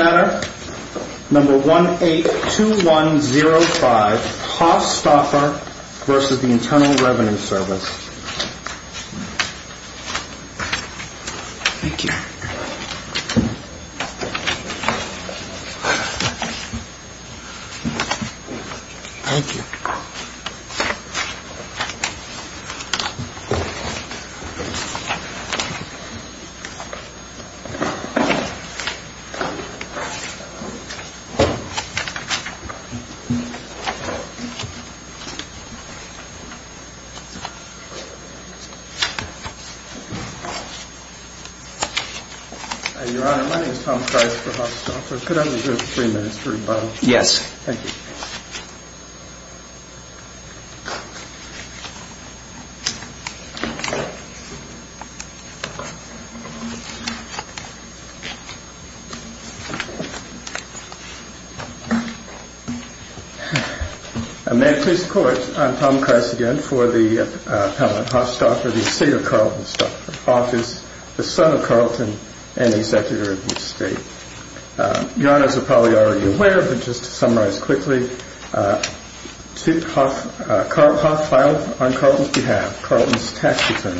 Letter No. 182105 Haas-Stauffer v. Internal Revenue Service Your Honor, my name is Tom Price for Haas-Stauffer. Could I reserve three minutes for rebuttal? Yes. Thank you. May it please the Court, I'm Tom Price again for the appellant Haas-Stauffer, the estate of Carlton Stauffer, office of the son of Carlton and the executor of this estate. Your Honor, as you're probably already aware, but just to summarize quickly, Duke Hough filed on Carlton's behalf, Carlton's tax return,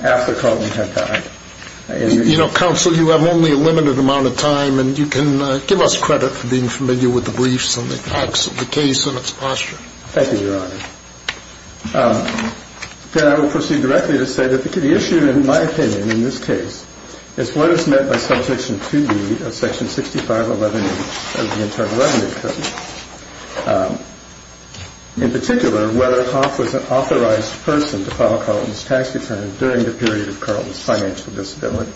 after Carlton had died. You know, Counsel, you have only a limited amount of time and you can give us credit for being familiar with the briefs and the facts of the case and its posture. Thank you, Your Honor. Then I will proceed directly to say that the issue in my opinion in this case is what is meant by Subsection 2B of Section 6511H of the Internal Revenue Code. In particular, whether Hough was an authorized person to file Carlton's tax return during the period of Carlton's financial disability.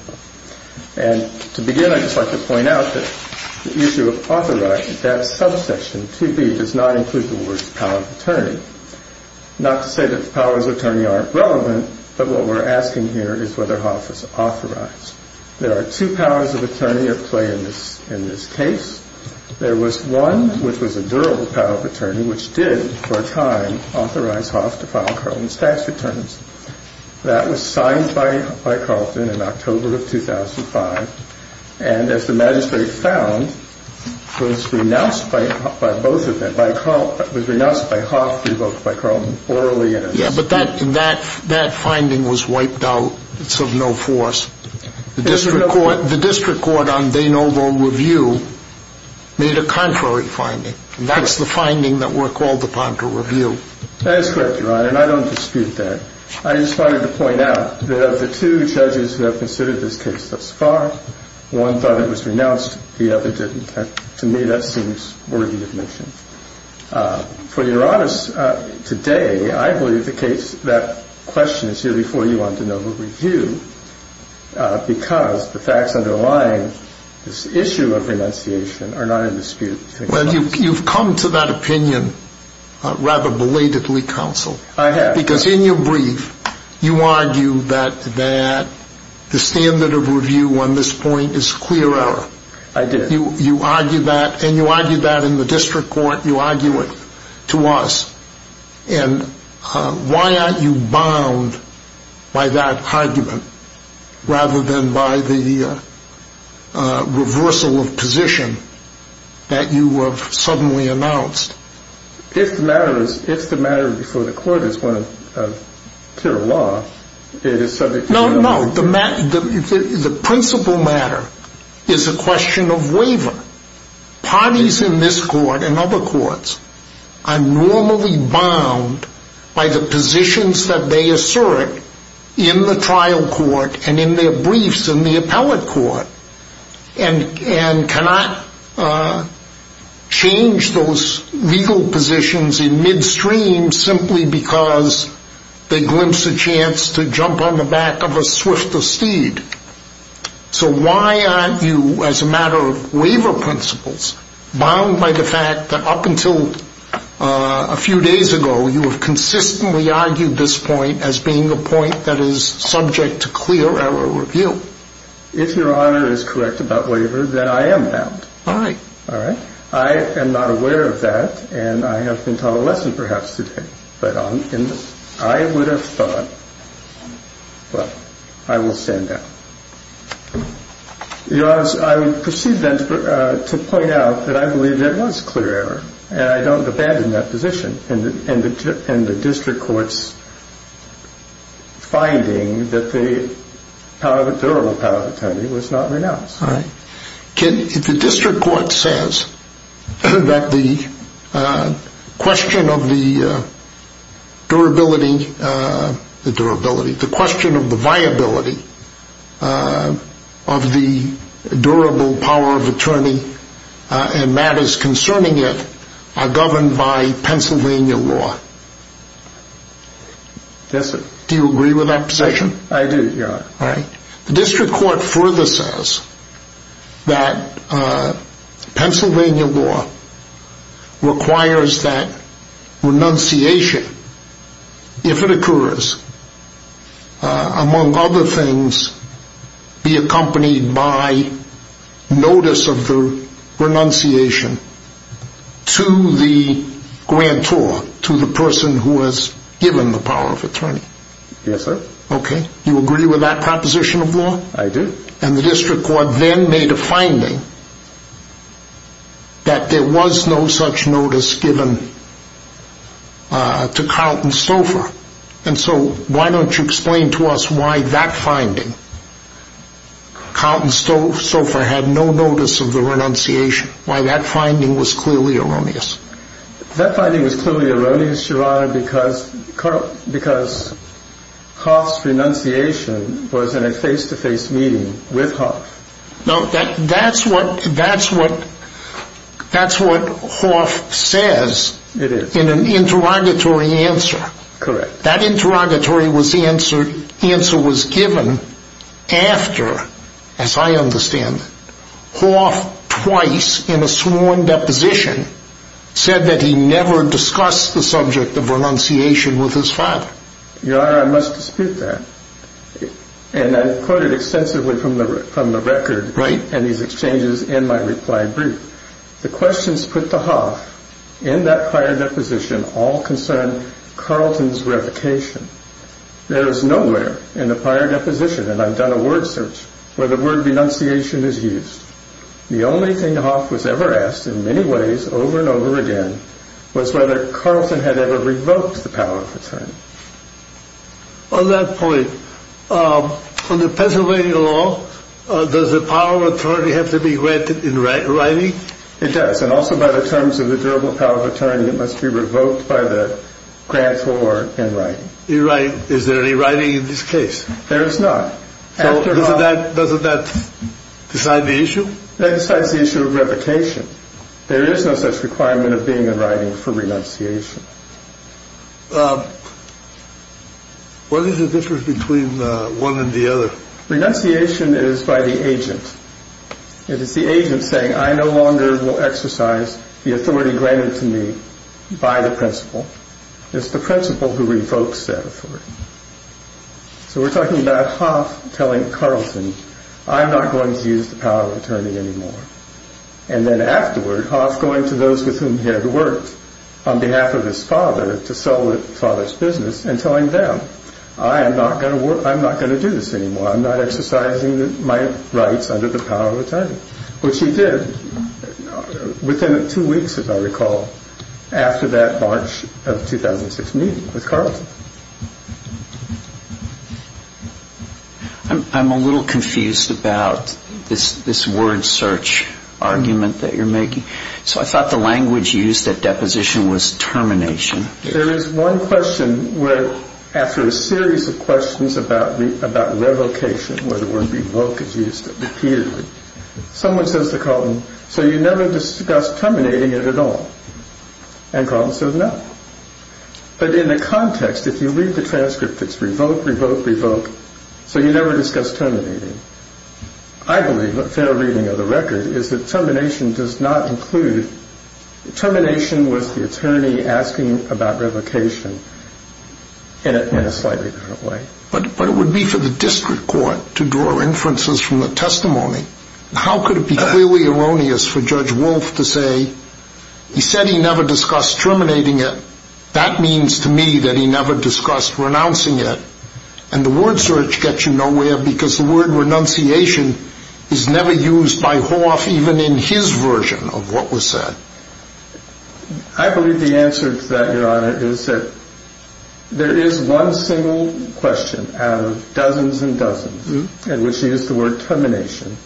And to begin, I'd just like to point out that the issue of authorized, that subsection 2B does not include the word power of attorney. Not to say that the powers of attorney aren't relevant, but what we're asking here is whether Hough was authorized. There are two powers of attorney at play in this case. There was one, which was a durable power of attorney, which did, for a time, authorize Hough to file Carlton's tax returns. That was signed by Carlton in October of 2005. And as the magistrate found, was renounced by both of them. Was renounced by Hough, revoked by Carlton orally. Yeah, but that finding was wiped out. It's of no force. The district court on De Novo Review made a contrary finding. That is correct, Your Honor, and I don't dispute that. I just wanted to point out that of the two judges who have considered this case thus far, one thought it was renounced, the other didn't. To me, that seems worthy of mention. For Your Honor, today, I believe that question is here before you on De Novo Review, because the facts underlying this issue of renunciation are not in dispute. Well, you've come to that opinion rather belatedly, counsel. I have. Because in your brief, you argue that the standard of review on this point is clear error. I did. You argue that, and you argue that in the district court. You argue it to us. And why aren't you bound by that argument rather than by the reversal of position that you have suddenly announced? If the matter before the court is one of pure law, it is subject to the law. No, no. The principle matter is a question of waiver. Parties in this court and other courts are normally bound by the positions that they assert in the trial court and in their briefs in the appellate court and cannot change those legal positions in midstream simply because they glimpsed a chance to jump on the back of a swift esteem. So why aren't you, as a matter of waiver principles, bound by the fact that up until a few days ago, you have consistently argued this point as being a point that is subject to clear error review? If Your Honor is correct about waiver, then I am bound. All right. All right? I am not aware of that, and I have been taught a lesson perhaps today. But I would have thought, well, I will stand down. Your Honor, I would proceed then to point out that I believe there was clear error, and I don't abandon that position. And the district court's finding that the power of a durable power of attorney was not renounced. All right. If the district court says that the question of the durability, the question of the viability of the durable power of attorney and matters concerning it are governed by Pennsylvania law, do you agree with that position? I do, Your Honor. All right. The district court further says that Pennsylvania law requires that renunciation, if it occurs, among other things, be accompanied by notice of the renunciation to the grantor, to the person who has given the power of attorney. Yes, sir. Okay. You agree with that proposition of law? I do. And the district court then made a finding that there was no such notice given to Carlton Stouffer. And so why don't you explain to us why that finding, Carlton Stouffer had no notice of the renunciation, why that finding was clearly erroneous? That finding was clearly erroneous, Your Honor, because Hoff's renunciation was in a face-to-face meeting with Hoff. No, that's what Hoff says in an interrogatory answer. Correct. That interrogatory answer was given after, as I understand, Hoff, twice in a sworn deposition, said that he never discussed the subject of renunciation with his father. Your Honor, I must dispute that. And I've quoted extensively from the record and these exchanges in my reply brief. The questions put to Hoff in that prior deposition all concern Carlton's revocation. There is nowhere in the prior deposition, and I've done a word search, where the word renunciation is used. The only thing Hoff was ever asked in many ways over and over again was whether Carlton had ever revoked the power of attorney. On that point, under Pennsylvania law, does the power of attorney have to be granted in writing? It does, and also by the terms of the durable power of attorney, it must be revoked by the grantor in writing. Is there any writing in this case? There is not. Doesn't that decide the issue? That decides the issue of revocation. There is no such requirement of being in writing for renunciation. What is the difference between one and the other? Renunciation is by the agent. It is the agent saying, I no longer will exercise the authority granted to me by the principal. It's the principal who revokes that authority. So we're talking about Hoff telling Carlton, I'm not going to use the power of attorney anymore. And then afterward, Hoff going to those with whom he had worked on behalf of his father to sell the father's business and telling them, I'm not going to do this anymore. I'm not exercising my rights under the power of attorney. Which he did within two weeks, if I recall, after that March of 2006 meeting with Carlton. I'm a little confused about this word search argument that you're making. So I thought the language used at deposition was termination. There is one question where after a series of questions about revocation, where the word revoke is used repeatedly, someone says to Carlton, so you never discussed terminating it at all? And Carlton says no. But in the context, if you read the transcript, it's revoke, revoke, revoke, so you never discussed terminating. I believe a fair reading of the record is that termination does not include, termination was the attorney asking about revocation in a slightly different way. But it would be for the district court to draw inferences from the testimony. How could it be clearly erroneous for Judge Wolf to say, he said he never discussed terminating it. That means to me that he never discussed renouncing it. And the word search gets you nowhere because the word renunciation is never used by Hoff even in his version of what was said. I believe the answer to that, Your Honor, is that there is one single question out of dozens and dozens, and which is the word termination.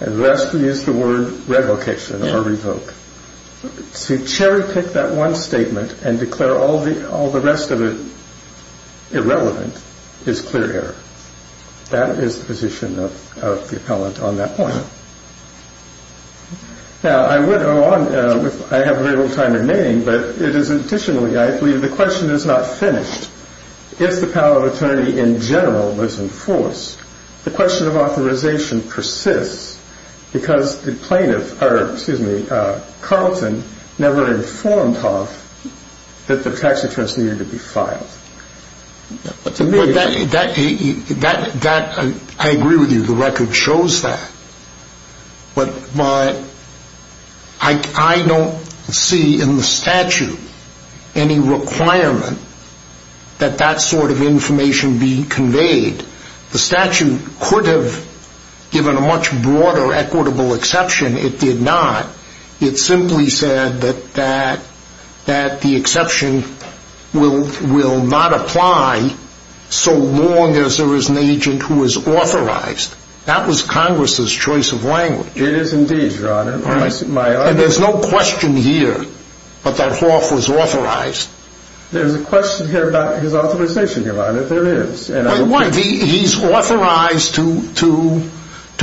And the rest we use the word revocation or revoke. To cherry pick that one statement and declare all the rest of it irrelevant is clear error. That is the position of the appellant on that point. Now, I have very little time remaining, but it is additionally, I believe the question is not finished. If the power of attorney in general was in force, the question of authorization persists because the plaintiff, or excuse me, Carlton never informed Hoff that the tax returns needed to be filed. I agree with you. The record shows that. But I don't see in the statute any requirement that that sort of information be conveyed. The statute could have given a much broader equitable exception. It did not. It simply said that the exception will not apply so long as there is an agent who is authorized. That was Congress's choice of language. It is indeed, Your Honor. And there's no question here that Hoff was authorized. There's a question here about his authorization, Your Honor. There is. He's authorized to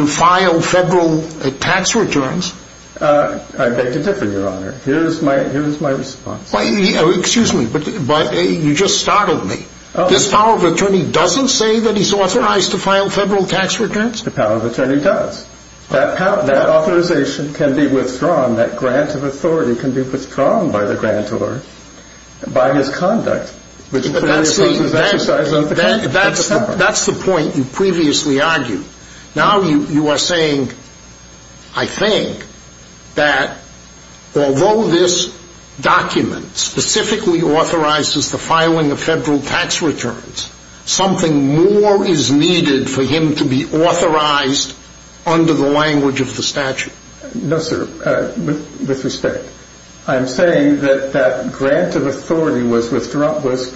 file federal tax returns? I beg to differ, Your Honor. Here is my response. Excuse me, but you just startled me. His power of attorney doesn't say that he's authorized to file federal tax returns? The power of attorney does. That authorization can be withdrawn, that grant of authority can be withdrawn by the grantor by his conduct. That's the point you previously argued. Now you are saying, I think, that although this document specifically authorizes the filing of federal tax returns, something more is needed for him to be authorized under the language of the statute. No, sir, with respect. I'm saying that that grant of authority was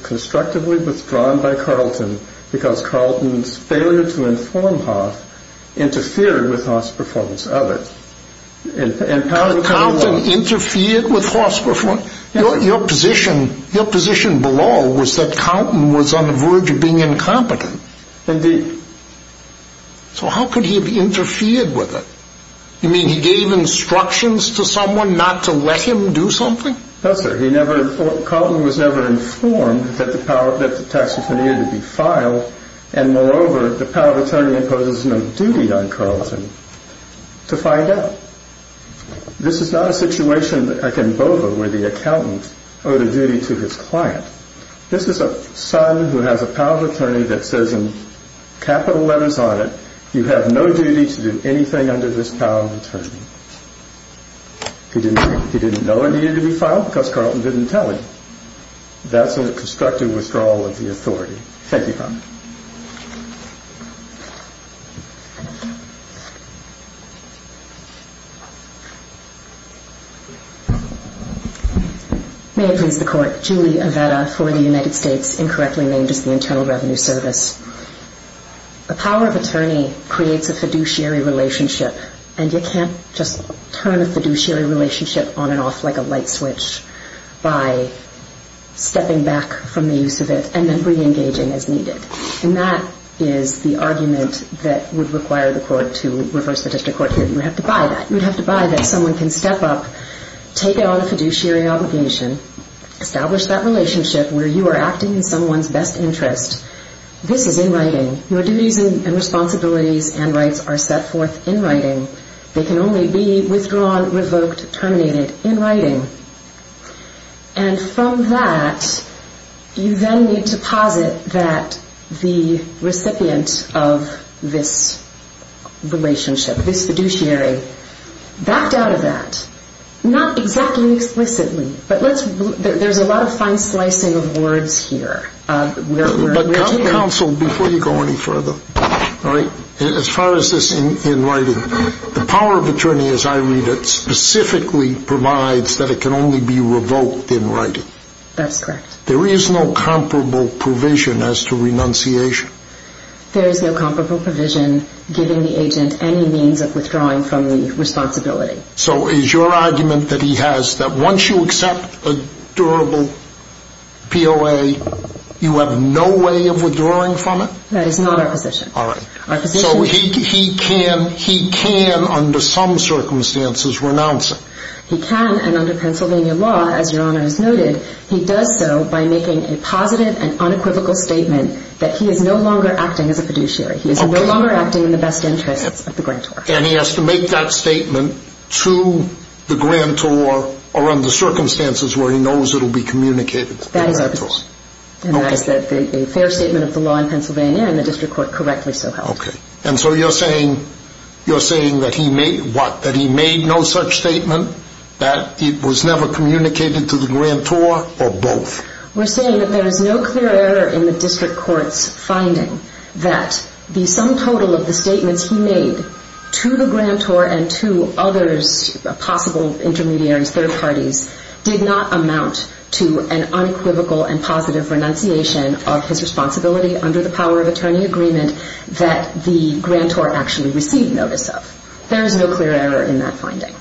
constructively withdrawn by Carlton because Carlton's failure to inform Hoff interfered with Hoff's performance of it. Did Carlton interfere with Hoff's performance? Your position below was that Carlton was on the verge of being incompetent. Indeed. So how could he have interfered with it? You mean he gave instructions to someone not to let him do something? No, sir. Carlton was never informed that the tax return needed to be filed, and moreover, the power of attorney imposes no duty on Carlton to find out. This is not a situation like in Bova where the accountant owed a duty to his client. This is a son who has a power of attorney that says in capital letters on it, you have no duty to do anything under this power of attorney. He didn't know it needed to be filed because Carlton didn't tell him. That's a constructive withdrawal of the authority. Thank you, Your Honor. May it please the Court. Julie Avetta for the United States, incorrectly named as the Internal Revenue Service. A power of attorney creates a fiduciary relationship, and you can't just turn a fiduciary relationship on and off like a light switch by stepping back from the use of it and then reengaging as needed. And that is the argument that would require the court to reverse the district court. You would have to buy that. You would have to buy that someone can step up, take on a fiduciary obligation, establish that relationship where you are acting in someone's best interest. This is in writing. Your duties and responsibilities and rights are set forth in writing. They can only be withdrawn, revoked, terminated in writing. And from that, you then need to posit that the recipient of this relationship, this fiduciary, backed out of that. Not exactly explicitly, but there's a lot of fine slicing of words here. But counsel, before you go any further, as far as this in writing, the power of attorney, as I read it, specifically provides that it can only be revoked in writing. That's correct. There is no comparable provision as to renunciation. There is no comparable provision giving the agent any means of withdrawing from the responsibility. So is your argument that he has that once you accept a durable POA, you have no way of withdrawing from it? That is not our position. All right. So he can, under some circumstances, renounce it. He can, and under Pennsylvania law, as Your Honor has noted, he does so by making a positive and unequivocal statement that he is no longer acting as a fiduciary. He is no longer acting in the best interests of the grantor. And he has to make that statement to the grantor or under circumstances where he knows it will be communicated to the grantor. And that is a fair statement of the law in Pennsylvania, and the district court correctly so held. Okay. And so you're saying that he made no such statement, that it was never communicated to the grantor, or both? We're saying that there is no clear error in the district court's finding that the sum total of the statements he made to the grantor and to other possible intermediaries, third parties, did not amount to an unequivocal and positive renunciation of his responsibility under the power of attorney agreement that the grantor actually received notice of. There is no clear error in that finding.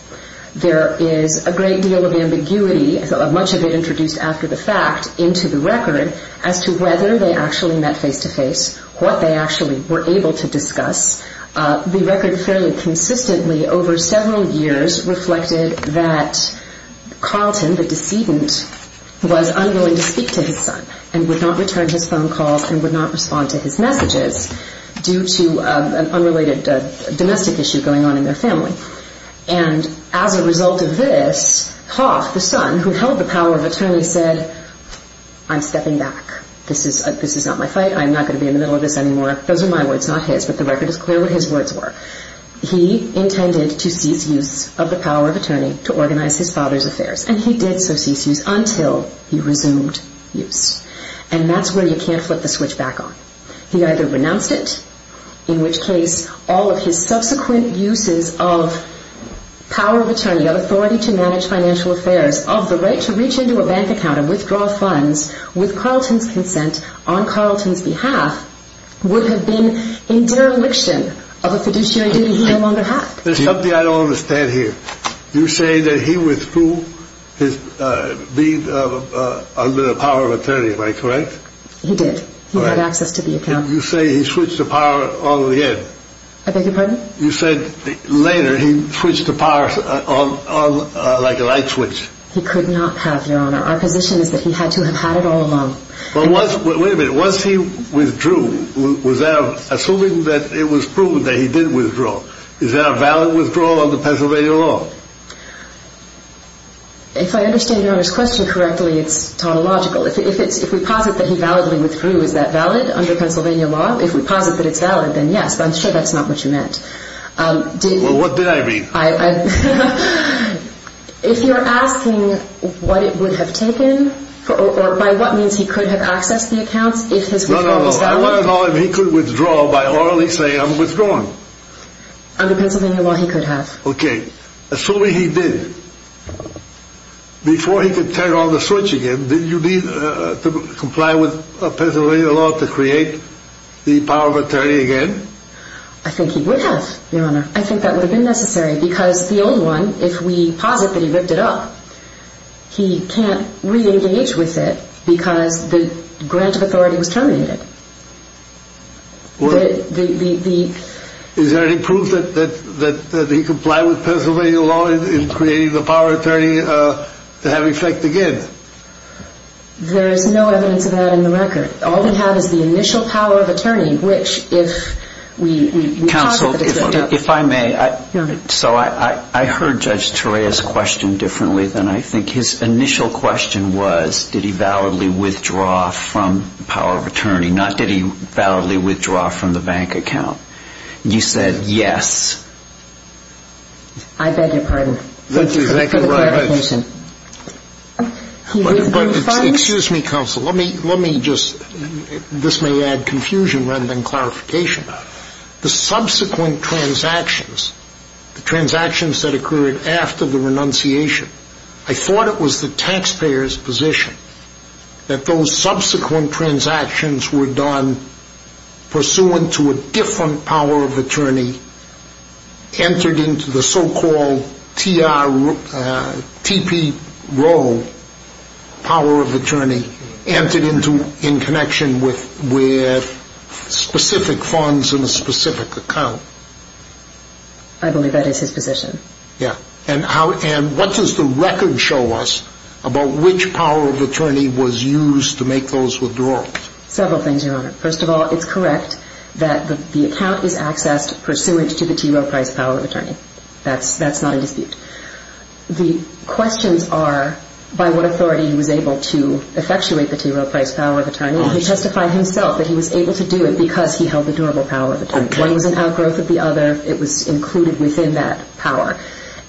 There is a great deal of ambiguity, much of it introduced after the fact, into the record as to whether they actually met face-to-face, what they actually were able to discuss. The record fairly consistently over several years reflected that Carlton, the decedent, was unwilling to speak to his son and would not return his phone calls and would not respond to his messages due to an unrelated domestic issue going on in their family. And as a result of this, Hoff, the son, who held the power of attorney, said, I'm stepping back. This is not my fight. I'm not going to be in the middle of this anymore. Those are my words, not his, but the record is clear what his words were. He intended to cease use of the power of attorney to organize his father's affairs, and he did so cease use until he resumed use. And that's where you can't flip the switch back on. He either renounced it, in which case all of his subsequent uses of power of attorney, of authority to manage financial affairs, of the right to reach into a bank account and withdraw funds with Carlton's consent on Carlton's behalf, would have been in dereliction of a fiduciary duty he no longer had. There's something I don't understand here. You say that he withdrew his being under the power of attorney. Am I correct? He did. He had access to the account. You say he switched the power on again. I beg your pardon? You said later he switched the power on like a light switch. He could not have, Your Honor. Our position is that he had to have had it all along. Wait a minute. Was he withdrew, assuming that it was proven that he did withdraw? Is that a valid withdrawal under Pennsylvania law? If I understand Your Honor's question correctly, it's tautological. If we posit that he validly withdrew, is that valid under Pennsylvania law? If we posit that it's valid, then yes, but I'm sure that's not what you meant. Well, what did I mean? If you're asking what it would have taken, or by what means he could have accessed the account, if his withdrawal was valid? No, no, no. I want to know if he could withdraw by orally saying, I'm withdrawing. Under Pennsylvania law, he could have. Okay. Assuming he did, before he could turn on the switch again, did you need to comply with Pennsylvania law to create the power of attorney again? I think he would have, Your Honor. I think that would have been necessary because the old one, if we posit that he ripped it up, he can't re-engage with it because the grant of authority was terminated. Is there any proof that he complied with Pennsylvania law in creating the power of attorney to have effect again? There is no evidence of that in the record. All we have is the initial power of attorney, which if we posit that it's valid. Counsel, if I may. Go ahead. So I heard Judge Torea's question differently than I think his initial question was, did he validly withdraw from the power of attorney? Not did he validly withdraw from the bank account. You said yes. I beg your pardon. Thank you very much. For the clarification. Excuse me, counsel. Let me just, this may add confusion rather than clarification. The subsequent transactions, the transactions that occurred after the renunciation, I thought it was the taxpayer's position that those subsequent transactions were done pursuant to a different power of attorney entered into the so-called T.P. Rowe power of attorney, entered into in connection with specific funds in a specific account. I believe that is his position. Yeah. And what does the record show us about which power of attorney was used to make those withdrawals? Several things, Your Honor. First of all, it's correct that the account is accessed pursuant to the T. Rowe Price power of attorney. That's not in dispute. The questions are by what authority he was able to effectuate the T. Rowe Price power of attorney. He testified himself that he was able to do it because he held the durable power of attorney. One was an outgrowth of the other. It was included within that power.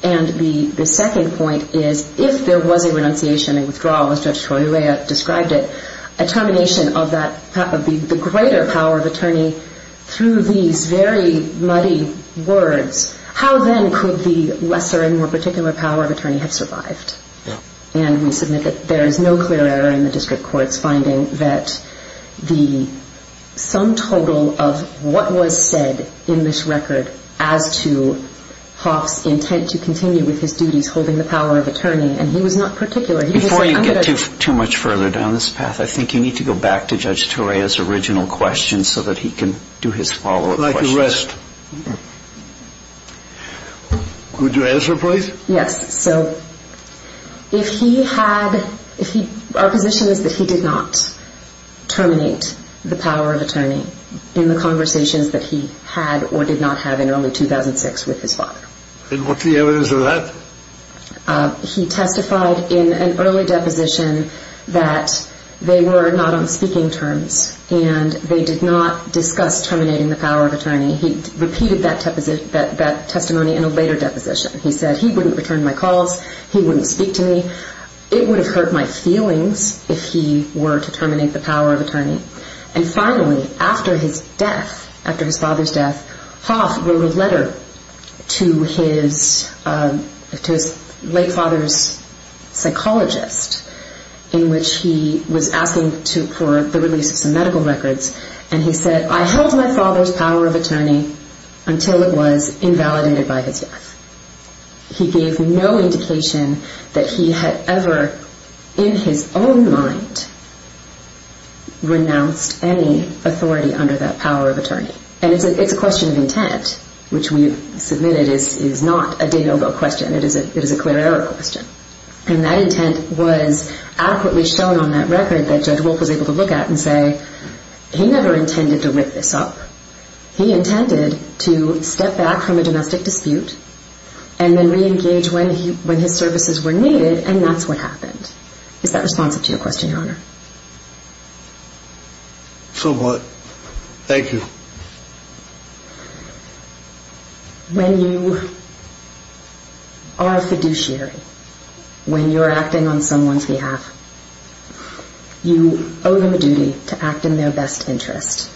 And the second point is, if there was a renunciation and withdrawal, as Judge Troia described it, a termination of the greater power of attorney through these very muddy words, how then could the lesser and more particular power of attorney have survived? Yeah. And we submit that there is no clear error in the district court's finding that the sum total of what was said in this record as to Hoff's intent to continue with his duties holding the power of attorney, and he was not particular. Before you get too much further down this path, I think you need to go back to Judge Troia's original question so that he can do his follow-up questions. I'd like to rest. Could you answer, please? Yes. Our position is that he did not terminate the power of attorney in the conversations that he had or did not have in early 2006 with his father. And what's the evidence of that? He testified in an early deposition that they were not on speaking terms and they did not discuss terminating the power of attorney. He repeated that testimony in a later deposition. He said he wouldn't return my calls, he wouldn't speak to me, it would have hurt my feelings if he were to terminate the power of attorney. And finally, after his death, after his father's death, Hoff wrote a letter to his late father's psychologist in which he was asking for the release of some medical records, and he said, I held my father's power of attorney until it was invalidated by his death. He gave no indication that he had ever, in his own mind, renounced any authority under that power of attorney. And it's a question of intent, which we've submitted is not a de novo question. It is a clear error question. And that intent was adequately shown on that record that Judge Wolfe was able to look at and say, he never intended to rip this up. He intended to step back from a domestic dispute and then reengage when his services were needed, and that's what happened. Is that responsive to your question, Your Honor? Somewhat. Thank you. When you are a fiduciary, when you're acting on someone's behalf, you owe them a duty to act in their best interest.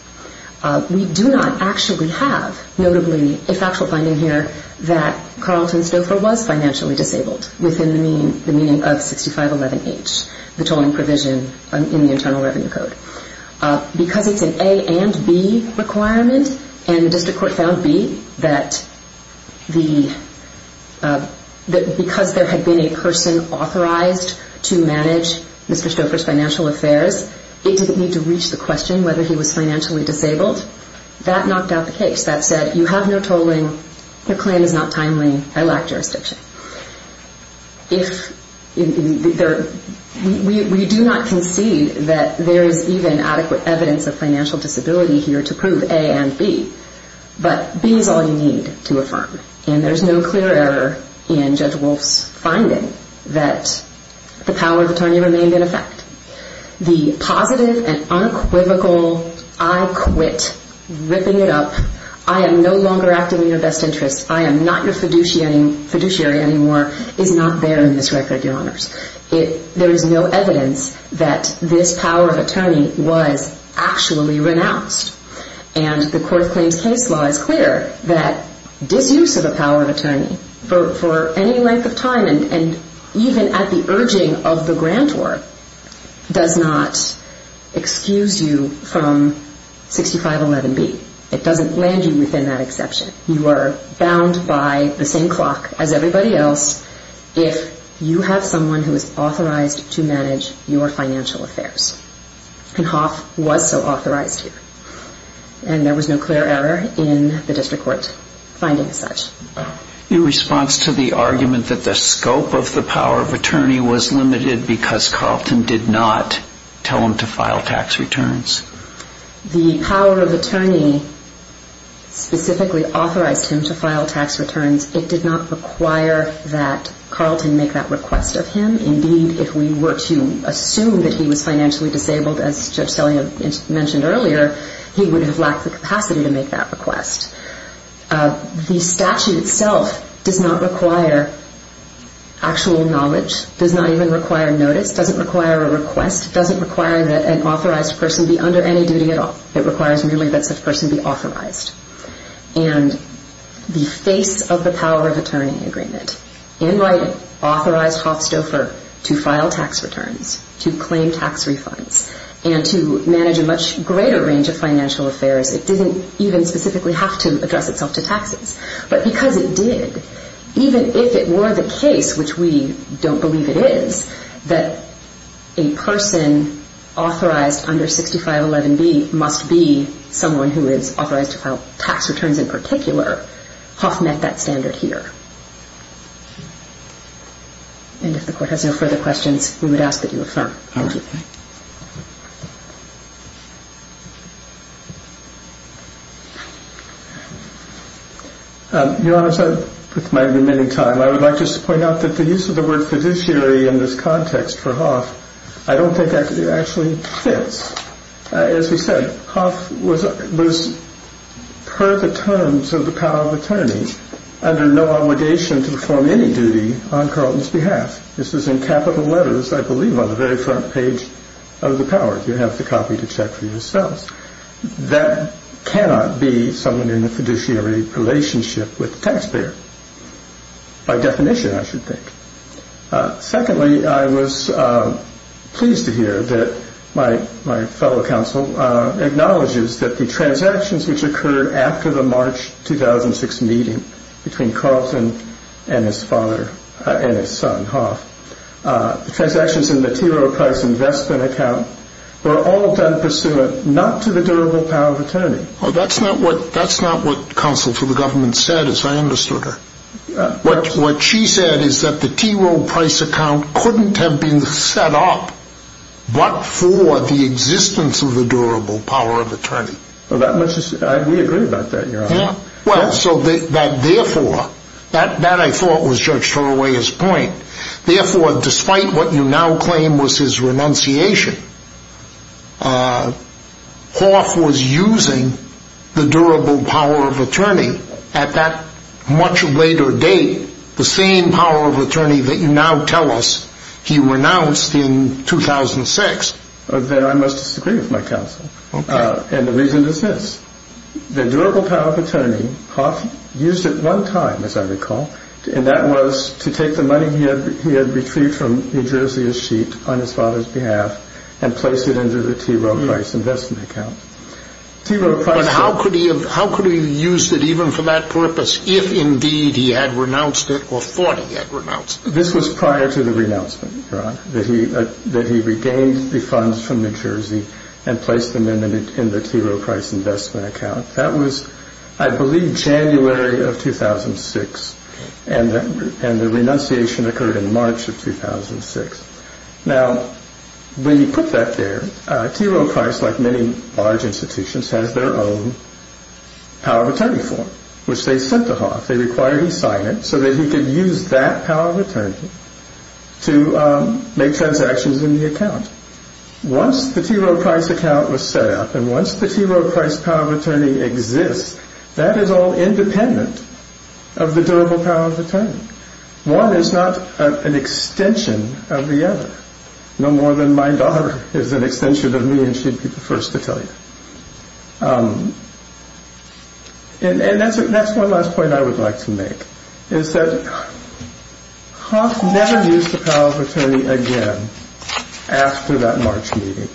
We do not actually have, notably, a factual finding here, that Carlton Stouffer was financially disabled within the meaning of 6511H, the tolling provision in the Internal Revenue Code. Because it's an A and B requirement, and the district court found B, that because there had been a person authorized to manage Mr. Stouffer's financial affairs, it didn't need to reach the question whether he was financially disabled. That knocked out the case. That said, you have no tolling, your claim is not timely, I lack jurisdiction. We do not concede that there is even adequate evidence of financial disability here to prove A and B. But B is all you need to affirm. And there's no clear error in Judge Wolf's finding that the power of attorney remained in effect. The positive and unequivocal, I quit, ripping it up, I am no longer acting in your best interest, I am not your fiduciary anymore, is not there in this record, Your Honors. There is no evidence that this power of attorney was actually renounced. And the Court of Claims case law is clear that disuse of a power of attorney for any length of time, and even at the urging of the grantor, does not excuse you from 6511B. It doesn't land you within that exception. You are bound by the same clock as everybody else if you have someone who is authorized to manage your financial affairs. And Hoff was so authorized here. And there was no clear error in the district court finding such. Your response to the argument that the scope of the power of attorney was limited because Carlton did not tell him to file tax returns? The power of attorney specifically authorized him to file tax returns. It did not require that Carlton make that request of him. Indeed, if we were to assume that he was financially disabled, as Judge Selliam mentioned earlier, he would have lacked the capacity to make that request. The statute itself does not require actual knowledge, does not even require notice, doesn't require a request, doesn't require that an authorized person be under any duty at all. It requires merely that such person be authorized. And the face of the power of attorney agreement, in writing, authorized Hoff Stouffer to file tax returns, to claim tax refunds, and to manage a much greater range of financial affairs. It didn't even specifically have to address itself to taxes. But because it did, even if it were the case, which we don't believe it is, that a person authorized under 6511B must be someone who is authorized to file tax returns in particular, Hoff met that standard here. And if the Court has no further questions, we would ask that you affirm. Thank you. Your Honor, with my remaining time, I would like to point out that the use of the word fiduciary in this context for Hoff, I don't think actually fits. As we said, Hoff was, per the terms of the power of attorney, under no obligation to perform any duty on Carlton's behalf. This is in capital letters, I believe, on the very front page of the power. You have the copy to check for yourselves. By definition, I should think. Secondly, I was pleased to hear that my fellow counsel acknowledges that the transactions which occurred after the March 2006 meeting between Carlton and his son, Hoff, the transactions in the T. Rowe Price Investment Account, were all done pursuant not to the durable power of attorney. Well, that's not what counsel to the government said, as I understood her. What she said is that the T. Rowe Price Account couldn't have been set up but for the existence of the durable power of attorney. We agree about that, Your Honor. Well, so that, therefore, that, I thought, was Judge Thoreau's point. Therefore, despite what you now claim was his renunciation, Hoff was using the durable power of attorney at that much later date, the same power of attorney that you now tell us he renounced in 2006. Then I must disagree with my counsel. Okay. And the reason is this. The durable power of attorney, Hoff used it one time, as I recall, and that was to take the money he had retrieved from New Jersey's sheet on his father's behalf and place it into the T. Rowe Price Investment Account. But how could he have used it, even for that purpose, if, indeed, he had renounced it or thought he had renounced it? This was prior to the renouncement, Your Honor, that he regained the funds from New Jersey and placed them in the T. Rowe Price Investment Account. That was, I believe, January of 2006, and the renunciation occurred in March of 2006. Now, when you put that there, T. Rowe Price, like many large institutions, has their own power of attorney form, which they sent to Hoff. They required he sign it so that he could use that power of attorney to make transactions in the account. Once the T. Rowe Price account was set up and once the T. Rowe Price power of attorney exists, that is all independent of the durable power of attorney. One is not an extension of the other, no more than my daughter is an extension of me and she'd be the first to tell you. And that's one last point I would like to make, is that Hoff never used the power of attorney again after that March meeting.